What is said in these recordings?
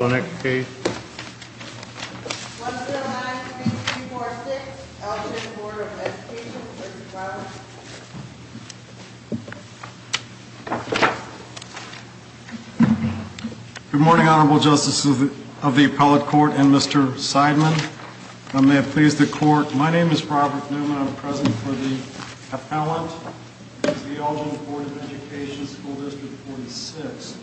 Good morning, Honorable Justices of the Appellate Court and Mr. Seidman. May it please the Court, my name is Robert Newman. I'm present for the Appellant to the Algin Board of Education, School District 46.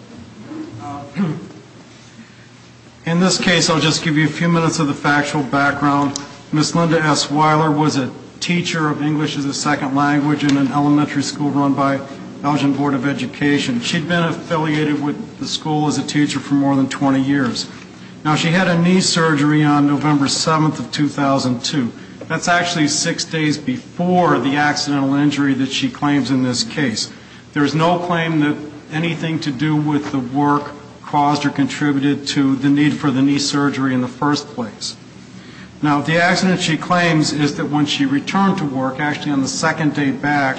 In this case, I'll just give you a few minutes of the factual background. Ms. Linda S. Weiler was a teacher of English as a second language in an elementary school run by Algin Board of Education. She'd been affiliated with the school as a teacher for more than 20 years. Now, she had a knee surgery on November 7th of 2002. That's actually six days before the accidental injury that she claims in this case. There's no claim that anything to do with the work caused or contributed to the need for the knee surgery in the first place. Now, the accident she claims is that when she returned to work, actually on the second day back,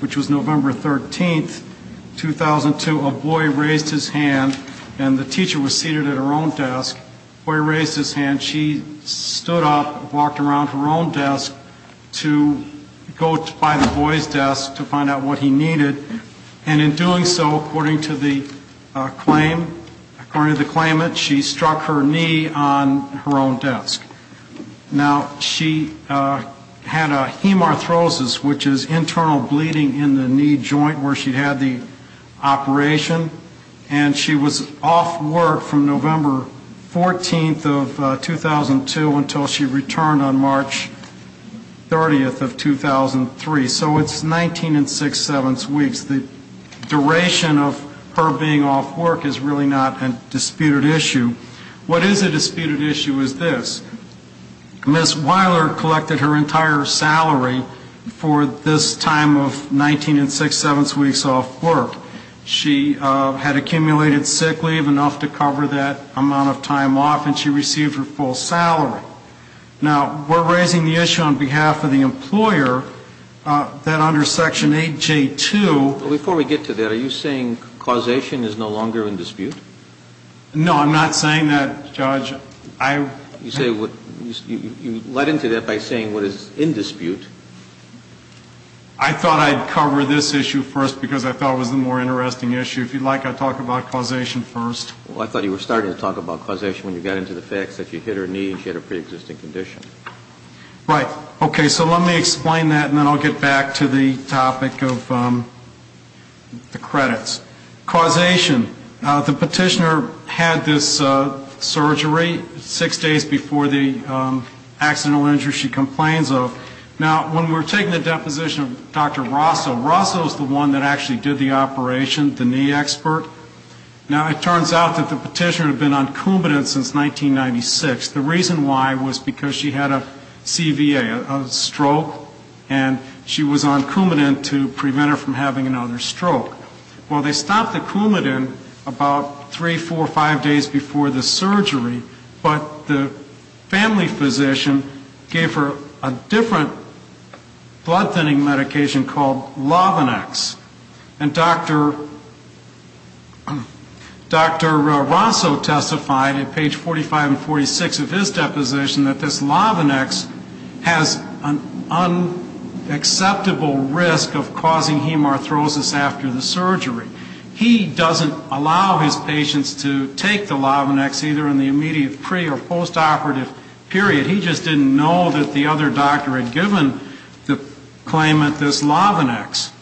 which was November 13th, 2002, a boy raised his hand and the teacher was seated at her own desk. The boy raised his hand, she stood up, walked around her own desk to go by the boy's desk to find out what he needed, and in doing so, according to the claim, according to the claimant, she struck her knee on her own desk. Now, she had a hemarthrosis, which is internal bleeding in the knee joint where she had the operation, and she was off work from November 14th of 2002 until she returned on March 30th of 2003. So it's 19 and six-sevenths weeks. The duration of her being off work is really not a disputed issue. What is a disputed issue is this. Ms. Weiler collected her entire salary for this time of 19 and six-sevenths weeks off work. She had accumulated sick leave, enough to cover that amount of time off, and she received her full salary. Now, we're raising the issue on behalf of the employer that under Section 8J2... But before we get to that, are you saying causation is no longer in dispute? No, I'm not saying that, Judge. I... You say what... you led into that by saying what is in dispute. I thought I'd cover this issue first because I thought it was the more interesting issue. If you'd like, I'll talk about causation first. Well, I thought you were starting to talk about causation when you got into the facts that you hit her knee and she had a preexisting condition. Right. Okay. So let me explain that, and then I'll get back to the topic of the credits. Causation. The petitioner had this surgery six days before the accidental injury she complains of. Now, when we're taking the deposition of Dr. Rosso, Rosso is the one that actually did the operation, the knee expert. Now, it turns out that the petitioner had been on Coumadin since 1996. The reason why was because she had a CVA, a stroke, and she was on Coumadin to prevent her from having another stroke. Well, they stopped the Coumadin about three, four, five days before the surgery, but the family physician gave her a different blood-thinning medication called Lovinex. And Dr. Rosso testified at page 45 and 46 of his deposition that this Lovinex has an unacceptable risk of causing hemarthrosis after the surgery. He doesn't allow his patients to take the Lovinex either in the immediate pre- or post-operative period. He just didn't know that the other doctor had given the claimant this Lovinex.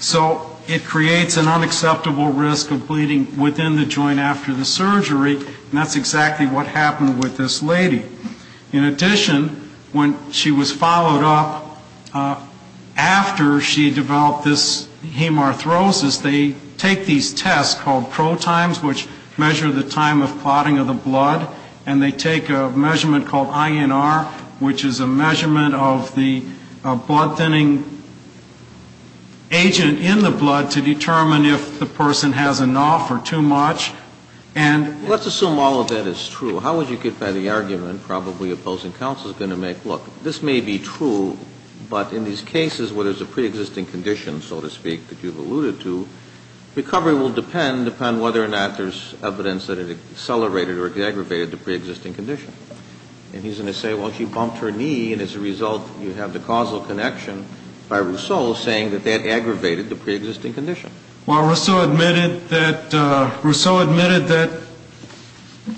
So it creates an unacceptable risk of bleeding within the joint after the surgery, and that's exactly what happened with this lady. In addition, when she was followed up after she developed this hemarthrosis, they take these tests called pro-times, which measure the time of clotting of the blood, and they take a measurement called INR, which is a measurement of the blood-thinning agent in the blood to determine if the person has enough or too much. And let's assume all of that is true. How would you get by the argument probably opposing counsel is going to make, look, this may be true, but in these cases where there's a pre-existing condition, so to speak, that you've alluded to, recovery will depend upon whether or not there's evidence that it accelerated or aggravated the pre-existing condition. And he's going to say, well, she bumped her knee, and as a result, you have the causal connection by Rosso saying that that aggravated the pre-existing condition. Well, Rosso admitted that, Rosso admitted that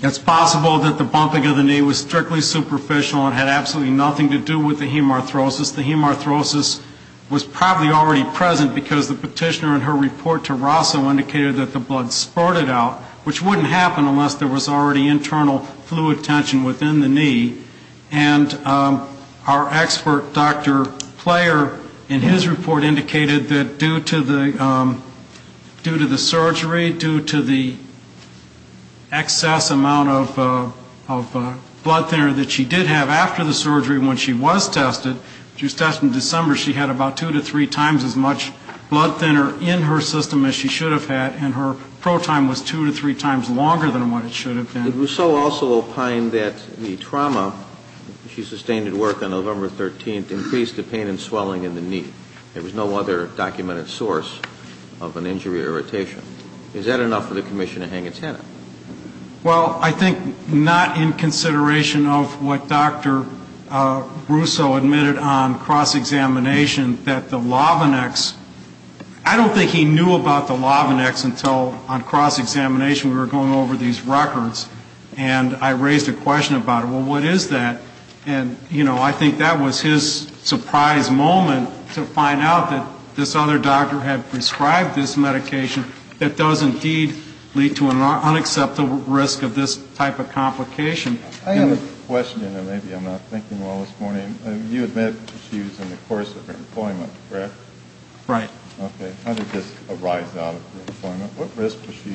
it's possible that the bumping of the knee was strictly superficial and had absolutely nothing to do with the hemarthrosis. The hemarthrosis was probably already present because the petitioner in her report to Rosso indicated that the blood spurted out, which wouldn't happen unless there was already internal fluid tension within the knee. And our expert, Dr. Player, in his report indicated that due to the hemarthrosis, the hemarthrosis was already present. Due to the surgery, due to the excess amount of blood thinner that she did have after the surgery when she was tested, she was tested in December, she had about two to three times as much blood thinner in her system as she should have had, and her pro-time was two to three times longer than what it should have been. And Rosso also opined that the trauma she sustained at work on November 13th increased the pain and swelling in the knee. There was no other documented source of an injury or irritation. Is that enough for the commission to hang its head? Well, I think not in consideration of what Dr. Rosso admitted on cross-examination that the Lovinex, I don't think he knew about the Lovinex until on cross-examination we were going over these records, and I raised a question about it. Well, what is that? And, you know, I think that was his surprise moment to find out that this other doctor had prescribed this medication that does indeed lead to an unacceptable risk of this type of complication. I have a question, and maybe I'm not thinking well this morning. You admit that she was in the course of her employment, correct? Right. Okay. How did this arise out of her employment? What risk was she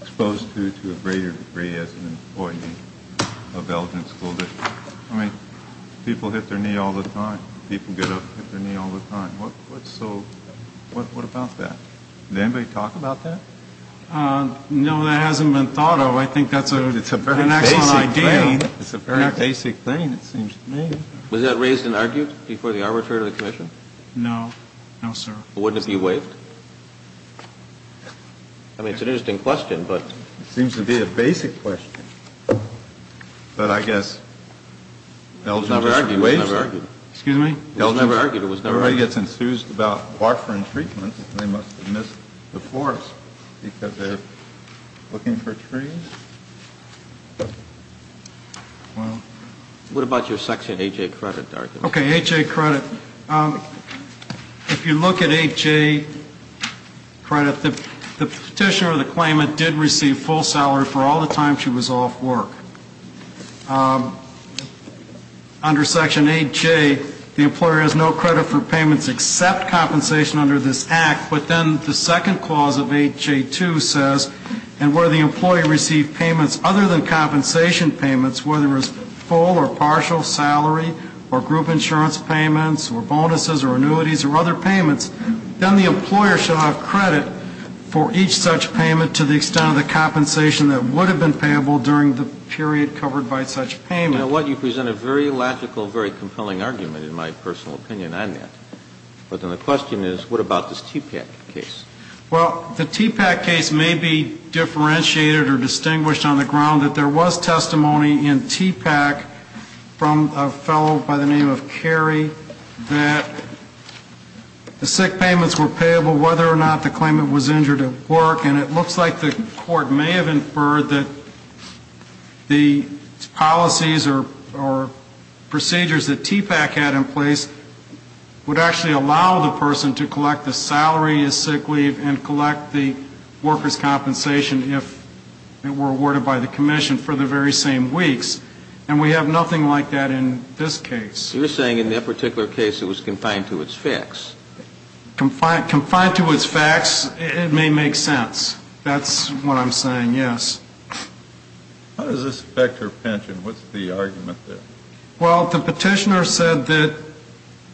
exposed to, to a greater degree as an employee of Elgin School District? I mean, people hit their knee all the time. People get up and hit their knee all the time. So what about that? Did anybody talk about that? No, that hasn't been thought of. I think that's a very basic thing, it seems to me. Was that raised and argued before the arbitrary commission? No, no, sir. Wouldn't it be waived? I mean, it's an interesting question, but... It seems to be a basic question, but I guess Elgin just waived it. It was never argued. Everybody gets enthused about warfarin treatments. They must have missed the forest because they're looking for trees. What about your Section A.J. credit argument? Okay, A.J. credit. If you look at A.J. credit, the petitioner of the claimant did receive full salary for all the time she was off work. Under Section A.J., the employer has no credit for payments except compensation under this Act. But then the second clause of A.J. 2 says, and where the employee received payments other than compensation payments, whether it was full or partial salary or group insurance payments or bonuses or annuities or other payments, then the employer should have credit for each such payment to the extent of the compensation that would have been payable during the period covered by such payment. You know what? You present a very logical, very compelling argument, in my personal opinion, on that. But then the question is, what about this TPAC case? Well, the TPAC case may be differentiated or distinguished on the ground that there was testimony in TPAC from a fellow by the name of Cary that the sick payments were payable whether or not the claimant was injured at work. And it looks like the Court may have inferred that the policies or procedures that TPAC had in place would actually allow the person to collect the salary as sick leave and collect the worker's compensation if it were awarded by the commission for the very same weeks. And we have nothing like that in this case. You're saying in that particular case it was confined to its facts. Confined to its facts, it may make sense. That's what I'm saying, yes. How does this affect her pension? What's the argument there? Well, the petitioner said that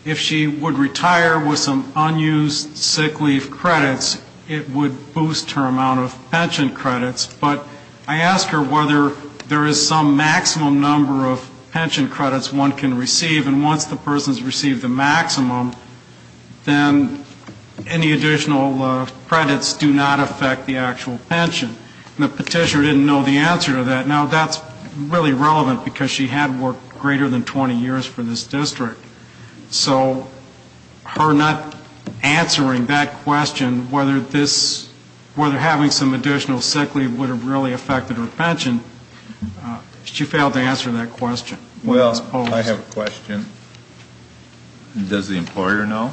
if she would retire with some unused sick leave credits, it would boost her amount of pension credits. But I asked her whether there is some maximum number of pension credits one can receive. And once the person's received the maximum, then any additional credits do not affect the actual pension. And the petitioner didn't know the answer to that. Now, that's really relevant, because she had worked greater than 20 years for this district. So her not answering that question, whether having some additional sick leave would have really affected her pension, she failed to answer that question. Well, I have a question. Does the employer know?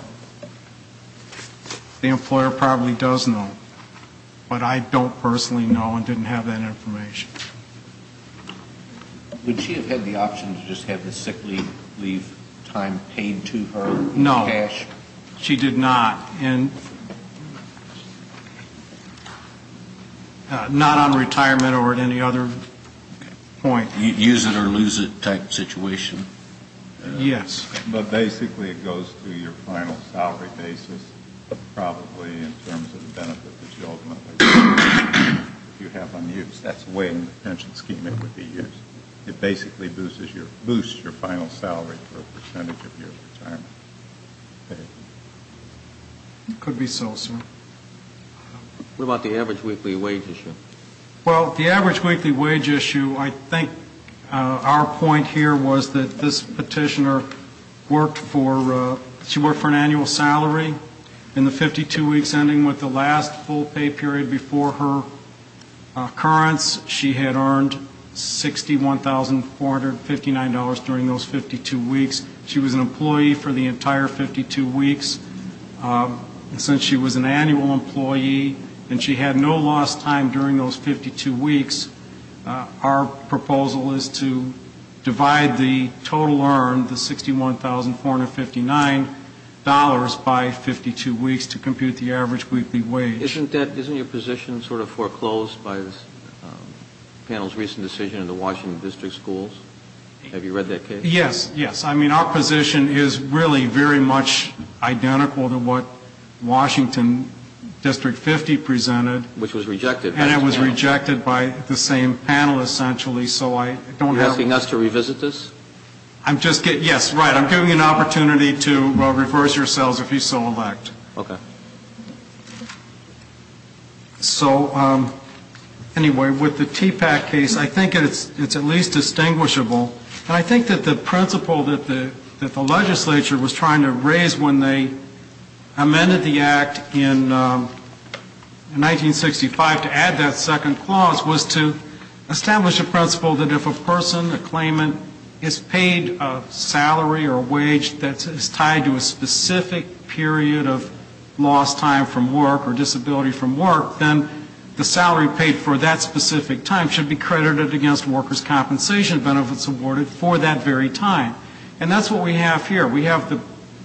The employer probably does know. But I don't personally know and didn't have that information. Would she have had the option to just have the sick leave time paid to her in cash? No, she did not. Not on retirement or at any other point. Use it or lose it type situation. Yes. Could be so, sir. What about the average weekly wage issue? Well, the average weekly wage issue, I think our point here was that this petitioner worked for an annual salary. In the 52 weeks ending with the last full pay period before her occurrence, she had earned $61,459 during those 52 weeks. She was an employee for the entire 52 weeks. And since she was an annual employee and she had no lost time during those 52 weeks, our proposal is to divide the total earned, the $61,459, by 52 weeks to compute the average weekly wage. Isn't that, isn't your position sort of foreclosed by this panel's recent decision in the Washington District Schools? Have you read that case? Yes, yes. I mean, our position is really very much identical to what Washington District 50 presented. Which was rejected. And it was rejected by the same panel, essentially. You're asking us to revisit this? Yes, right. I'm giving you an opportunity to reverse yourselves if you so elect. Okay. So, anyway, with the TPAC case, I think it's at least distinguishable. And I think that the principle that the legislature was trying to raise when they amended the act in 1965 to add that second clause was to establish a principle that if a person, a claimant, is paid a salary or a wage that is tied to a specific period of their life, then they're entitled to a salary. And if they have lost time from work or disability from work, then the salary paid for that specific time should be credited against workers' compensation benefits awarded for that very time. And that's what we have here. We have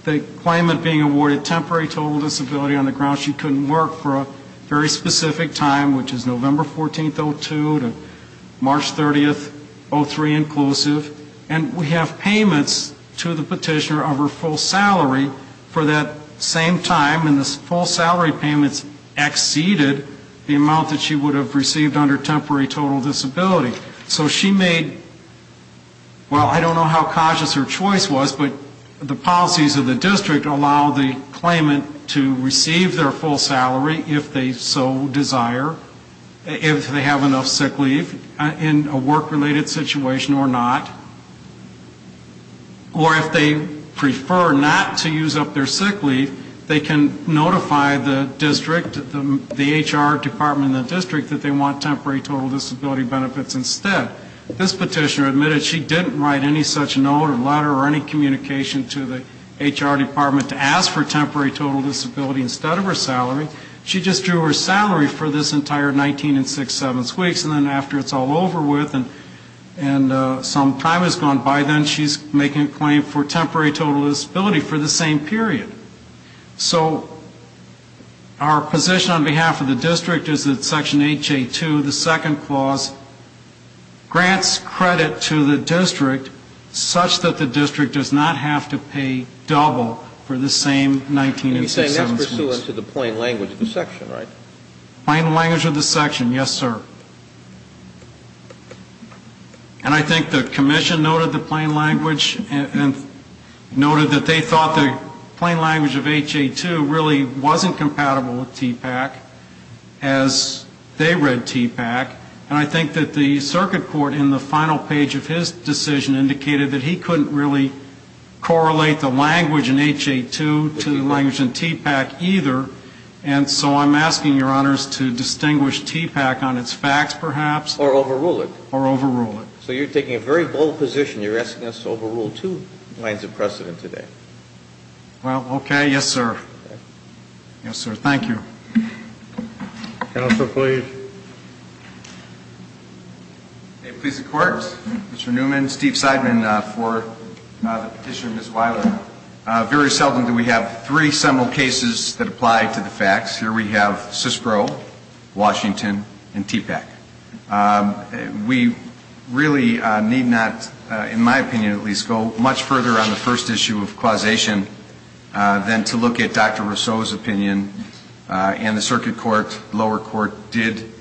the claimant being awarded temporary total disability on the grounds she couldn't work for a very specific time, which is November 14th, 02, to March 30th, 03 inclusive. And we have payments to the petitioner of her full salary for that same time, and the full salary payments exceeded the amount that she would have received under temporary total disability. So she made, well, I don't know how cautious her choice was, but the policies of the district allow the claimant to receive their full salary if they so desire, if they have enough sick leave in a work-related situation or not. Or if they prefer not to use up their sick leave, they can notify the district, the HR department in the district, that they want temporary total disability benefits instead. This petitioner admitted she didn't write any such note or letter or any communication to the HR department to ask for temporary total disability instead of her salary. She just drew her salary for this entire 19 and six-sevenths weeks, and then after it's all over with and some time has passed, she says, well, I don't know. By then, she's making a claim for temporary total disability for the same period. So our position on behalf of the district is that Section 8J2, the second clause, grants credit to the district such that the district does not have to pay double for the same 19 and six-sevenths weeks. And you're saying that's pursuant to the plain language of the section, right? Plain language of the section, yes, sir. And I think the commission noted the plain language and noted that they thought the plain language of 8J2 really wasn't compatible with TPAC as they read TPAC. And I think that the circuit court in the final page of his decision indicated that he couldn't really correlate the language in 8J2 to the language in TPAC either. And so I'm asking, Your Honors, to distinguish TPAC on its facts, perhaps. Or overrule it. Or overrule it. So you're taking a very bold position. You're asking us to overrule two lines of precedent today. Well, okay. Yes, sir. Yes, sir. Thank you. Counsel, please. Okay. Please, the Court. Mr. Newman, Steve Seidman for the Petitioner, Ms. Weiler. Very seldom do we have three seminal cases that apply to the facts. Here we have CISPRO, Washington, and TPAC. We really need not, in my opinion at least, go much further on the first issue of causation than to look at Dr. Rousseau's opinion. And the circuit court, lower court, did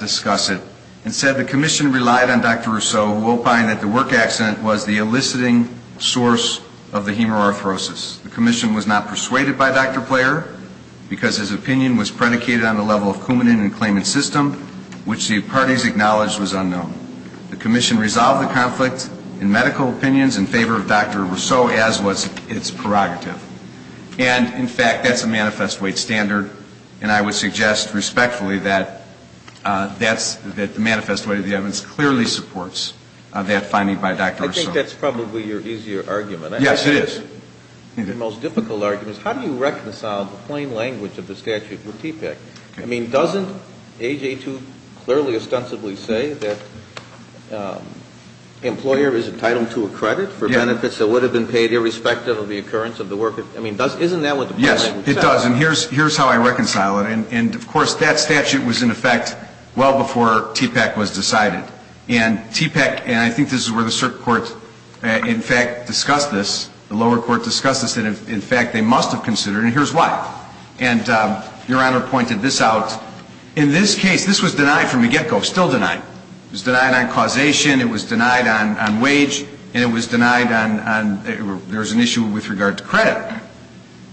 discuss it and said the commission relied on Dr. Rousseau, who opined that the work accident was the eliciting source of the hemoarthrosis. The commission was not persuaded by Dr. Player because his opinion was predicated on the level of coumadin in the claimant system, which the parties acknowledged was unknown. The commission resolved the conflict in medical opinions in favor of Dr. Rousseau, as was its prerogative. And, in fact, that's a manifest weight standard, and I would suggest respectfully that the manifest weight of the evidence clearly supports that finding by Dr. Rousseau. I think that's probably your easier argument. Yes, it is. The most difficult argument is how do you reconcile the plain language of the statute with TPAC? I mean, doesn't AJ2 clearly ostensibly say that the employer is entitled to a credit for benefits that would have been paid irrespective of the occurrence of the work? I mean, isn't that what the plain language says? Yes, it does. And here's how I reconcile it. And, of course, that statute was in effect well before TPAC was decided. And TPAC, and I think this is where the circuit court, in fact, discussed this, the lower court discussed this, that, in fact, they must have considered it, and here's why. And Your Honor pointed this out. In this case, this was denied from the get-go, still denied. It was denied on causation. It was denied on wage. And it was denied on, there was an issue with regard to credit.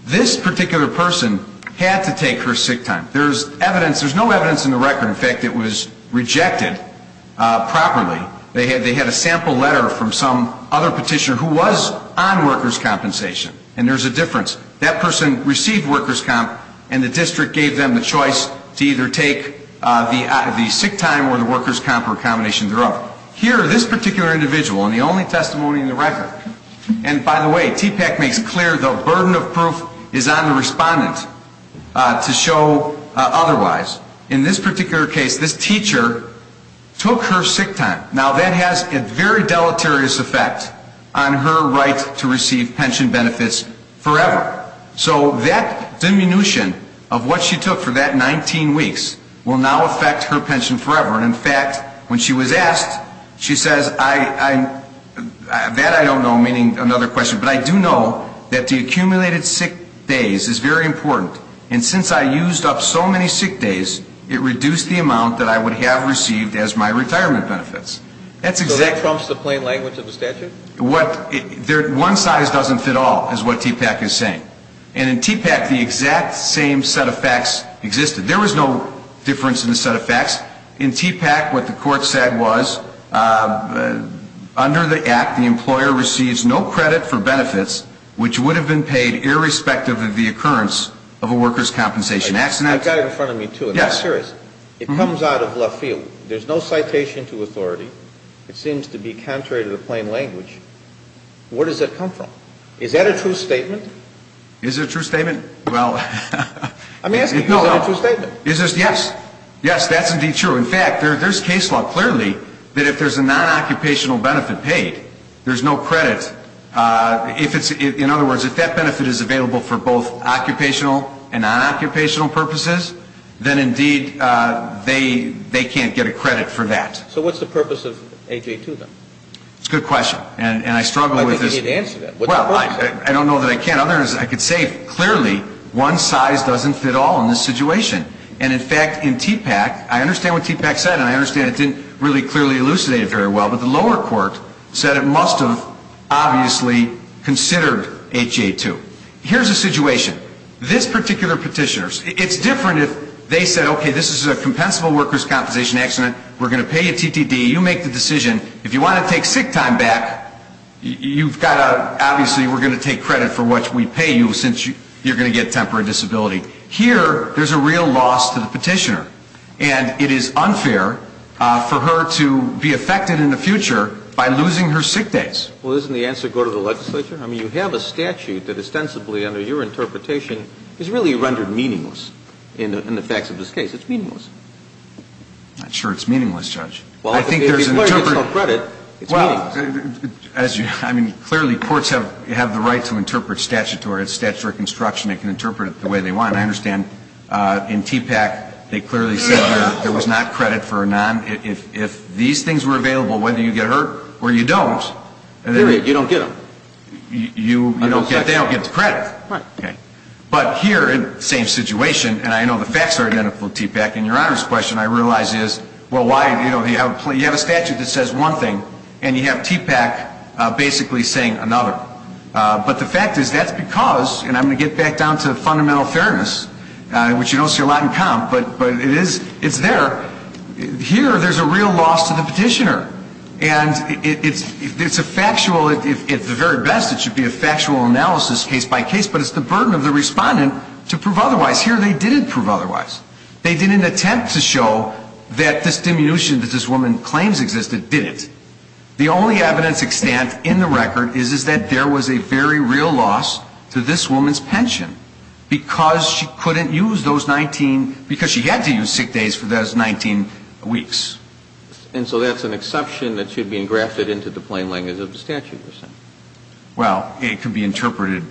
This particular person had to take her sick time. There's evidence, there's no evidence in the record, in fact, it was rejected properly. They had a sample letter from some other petitioner who was on workers' compensation. And there's a difference. That person received workers' comp, and the district gave them the choice to either take the sick time or the workers' comp or a combination of the two. Now, here, this particular individual, and the only testimony in the record, and by the way, TPAC makes clear the burden of proof is on the respondent to show otherwise. In this particular case, this teacher took her sick time. Now, that has a very deleterious effect on her right to receive pension benefits forever. So that diminution of what she took for that 19 weeks will now affect her pension forever. And, in fact, when she was asked, she says, that I don't know, meaning another question, but I do know that the accumulated sick days is very important. And since I used up so many sick days, it reduced the amount that I would have received as my retirement benefits. So that trumps the plain language of the statute? One size doesn't fit all is what TPAC is saying. And in TPAC, the exact same set of facts existed. There was no difference in the set of facts. In TPAC, what the court said was, under the act, the employer receives no credit for benefits, which would have been paid irrespective of the occurrence of a worker's compensation. I've got it in front of me, too, and I'm serious. It comes out of left field. There's no citation to authority. It seems to be contrary to the plain language. Where does that come from? Is that a true statement? Is it a true statement? I'm asking you, is that a true statement? Yes. Yes, that's indeed true. In fact, there's case law clearly that if there's a non-occupational benefit paid, there's no credit. In other words, if that benefit is available for both occupational and non-occupational purposes, then, indeed, they can't get a credit for that. So what's the purpose of 832, then? That's a good question, and I struggle with this. I think you need to answer that. Well, I don't know that I can. In other words, I could say clearly one size doesn't fit all in this situation. And, in fact, in TPAC, I understand what TPAC said, and I understand it didn't really clearly elucidate it very well, but the lower court said it must have obviously considered 832. Here's the situation. This particular petitioner, it's different if they said, okay, this is a compensable worker's compensation accident. We're going to pay you TTD. You make the decision. If you want to take sick time back, you've got to, obviously, we're going to take credit for what we pay you since you're going to get temporary disability. Here, there's a real loss to the petitioner, and it is unfair for her to be affected in the future by losing her sick days. Well, doesn't the answer go to the legislature? I mean, you have a statute that, ostensibly, under your interpretation, is really rendered meaningless in the facts of this case. It's meaningless. I'm not sure it's meaningless, Judge. I think there's an interpretation. Well, I mean, clearly, courts have the right to interpret statutory construction. They can interpret it the way they want. I understand in TPAC, they clearly said there was not credit for a non. If these things were available, whether you get hurt or you don't. Period. You don't get them. They don't get the credit. Right. Okay. But here, same situation, and I know the facts are identical to TPAC in Your Honor's question, I realize is, well, you have a statute that says one thing, and you have TPAC basically saying another. But the fact is, that's because, and I'm going to get back down to fundamental fairness, which you don't see a lot in comp, but it's there. Here, there's a real loss to the petitioner. And it's a factual, at the very best, it should be a factual analysis case by case, but it's the burden of the respondent to prove otherwise. Here, they didn't prove otherwise. They didn't attempt to show that this diminution that this woman claims existed didn't. The only evidence extant in the record is that there was a very real loss to this woman's pension because she couldn't use those 19, because she had to use sick days for those 19 weeks. And so that's an exception that should be engrafted into the plain language of the statute. Well, it can be interpreted,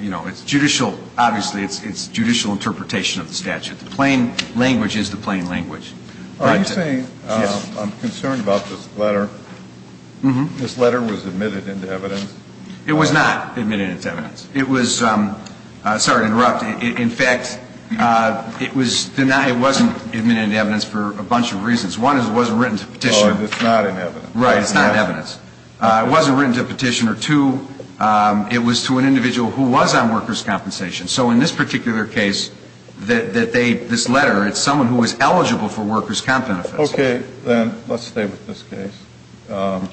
you know, it's judicial, obviously it's judicial interpretation of the statute. The plain language is the plain language. Are you saying, I'm concerned about this letter, this letter was admitted into evidence? It was not admitted into evidence. It was, sorry to interrupt. In fact, it was denied, it wasn't admitted into evidence for a bunch of reasons. One is it wasn't written to the petitioner. So it's not in evidence. Right, it's not in evidence. It wasn't written to the petitioner. And two, it was to an individual who was on workers' compensation. So in this particular case, that they, this letter, it's someone who was eligible for workers' comp benefits. Okay. Then let's stay with this case.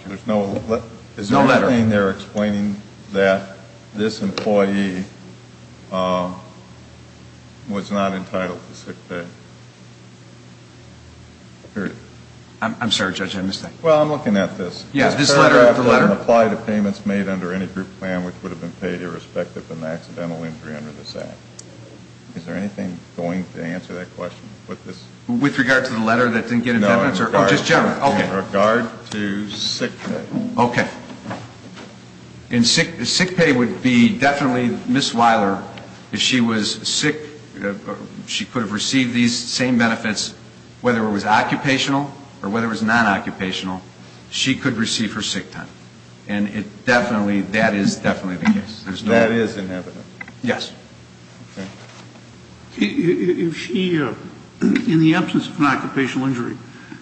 There's no letter. Is there anything there explaining that this employee was not entitled to sick pay? I'm sorry, Judge, I missed that. Well, I'm looking at this. Yes, this letter after letter. It doesn't apply to payments made under any group plan which would have been paid irrespective of an accidental injury under this act. Is there anything going to answer that question? With regard to the letter that didn't get into evidence? No. Oh, just generally. Okay. In regard to sick pay. Okay. And sick pay would be definitely Ms. Weiler, if she was sick, she could have received these same benefits, whether it was occupational or whether it was non-occupational, she could receive her sick time. And it definitely, that is definitely the case. That is inevitable. Yes. Okay. If she, in the absence of an occupational injury,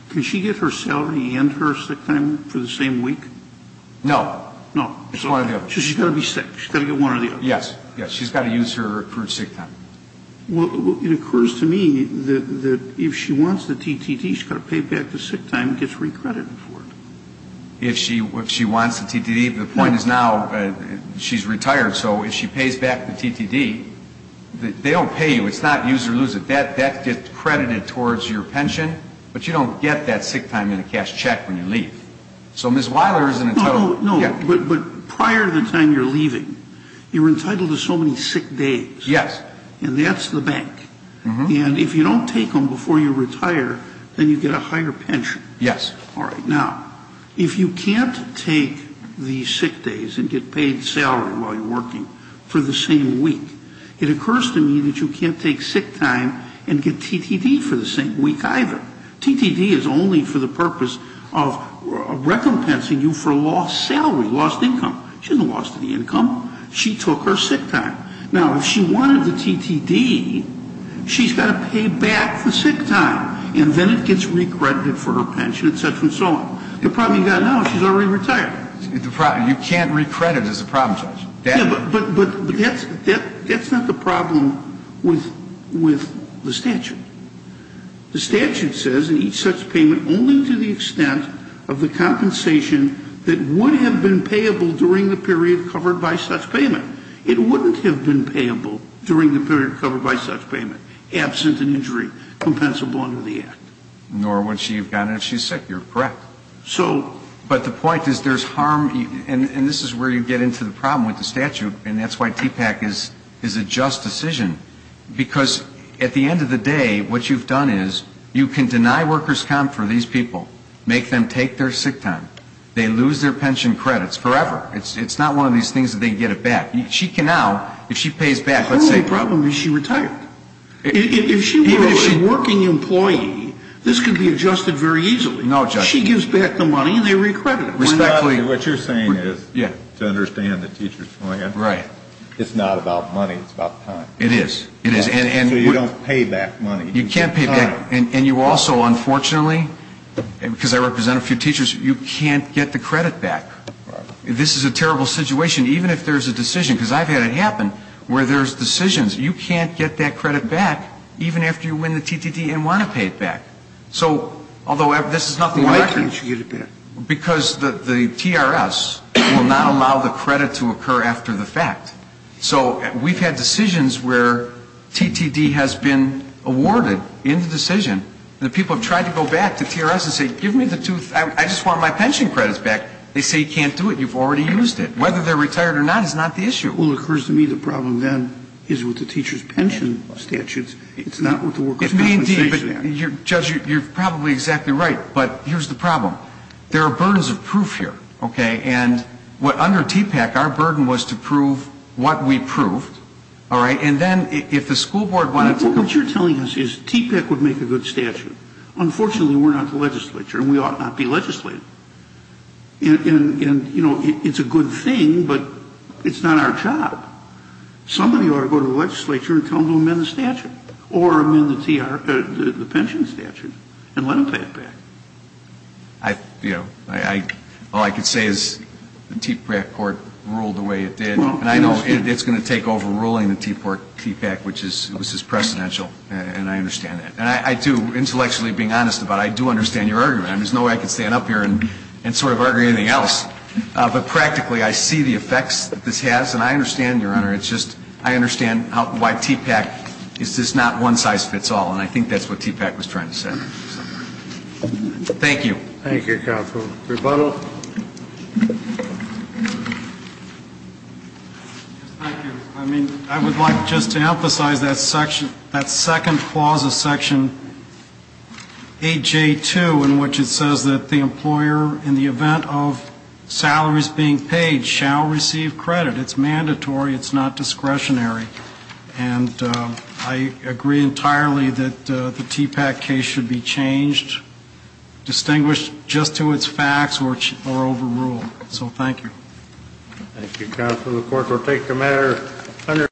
can she get her salary and her sick time for the same week? No. No. It's one or the other. So she's got to be sick. She's got to get one or the other. Yes. Yes. She's got to use her sick time. Well, it occurs to me that if she wants the TTT, she's got to pay back the sick time and gets re-credited for it. If she wants the TTT, the point is now she's retired, so if she pays back the TTT, they don't pay you. It's not use or lose a debt. That gets credited towards your pension, but you don't get that sick time in a cash check when you leave. So Ms. Weiler isn't entitled. No, no, no. But prior to the time you're leaving, you're entitled to so many sick days. Yes. And that's the bank. And if you don't take them before you retire, then you get a higher pension. Yes. All right. Now, if you can't take the sick days and get paid salary while you're working for the same week, it occurs to me that you can't take sick time and get TTT for the same week either. TTT is only for the purpose of recompensing you for lost salary, lost income. She hasn't lost any income. She took her sick time. Now, if she wanted the TTT, she's got to pay back the sick time, and then it gets recredited for her pension, et cetera and so on. The problem you've got now is she's already retired. You can't recredit as a problem, Judge. Yeah, but that's not the problem with the statute. The statute says in each such payment only to the extent of the compensation that would have been payable during the period covered by such payment. It wouldn't have been payable during the period covered by such payment, absent an injury compensable under the Act. Nor would she have gotten it if she was sick. You're correct. But the point is there's harm, and this is where you get into the problem with the statute, and that's why TPAC is a just decision, because at the end of the day, what you've done is you can deny workers' comp for these people, make them take their sick time. They lose their pension credits forever. It's not one of these things that they can get it back. She can now, if she pays back, let's say ---- The only problem is she retired. If she were a working employee, this could be adjusted very easily. No, Judge. She gives back the money and they recredit her. Respectfully ---- What you're saying is to understand the teacher's plan. Right. It's not about money. It's about time. It is. So you don't pay back money. You can't pay back. And you also, unfortunately, because I represent a few teachers, you can't get the credit back. Right. This is a terrible situation, even if there's a decision, because I've had it happen, where there's decisions. You can't get that credit back even after you win the TTD and want to pay it back. So although this is not the record ---- Why can't you get it back? Because the TRS will not allow the credit to occur after the fact. So we've had decisions where TTD has been awarded in the decision, and the people have tried to go back to TRS and say, give me the two ---- I just want my pension credits back. They say you can't do it. You've already used it. Whether they're retired or not is not the issue. Well, it occurs to me the problem, then, is with the teacher's pension statutes. It's not what the workers compensation act. Judge, you're probably exactly right. But here's the problem. There are burdens of proof here, okay? And under TPAC, our burden was to prove what we proved, all right? And then if the school board wanted to ---- What you're telling us is TPAC would make a good statute. Unfortunately, we're not the legislature, and we ought not be legislated. And, you know, it's a good thing, but it's not our job. Somebody ought to go to the legislature and tell them to amend the statute or amend the pension statute and let them pay it back. You know, all I can say is the TPAC court ruled the way it did. And I know it's going to take over ruling the TPAC, which is ---- this is precedential, and I understand that. And I do, intellectually being honest about it, I do understand your argument. There's no way I could stand up here and sort of argue anything else. But practically, I see the effects that this has, and I understand, Your Honor, it's just I understand why TPAC is just not one size fits all. And I think that's what TPAC was trying to say. Thank you. Thank you, counsel. Rebuttal. Thank you. I mean, I would like just to emphasize that section, that second clause of section AJ2 in which it says that the employer, in the event of salaries being paid, shall receive credit. It's mandatory. It's not discretionary. And I agree entirely that the TPAC case should be changed, distinguished just to its facts or overruled. So thank you. Thank you, counsel. The court will take the matter under.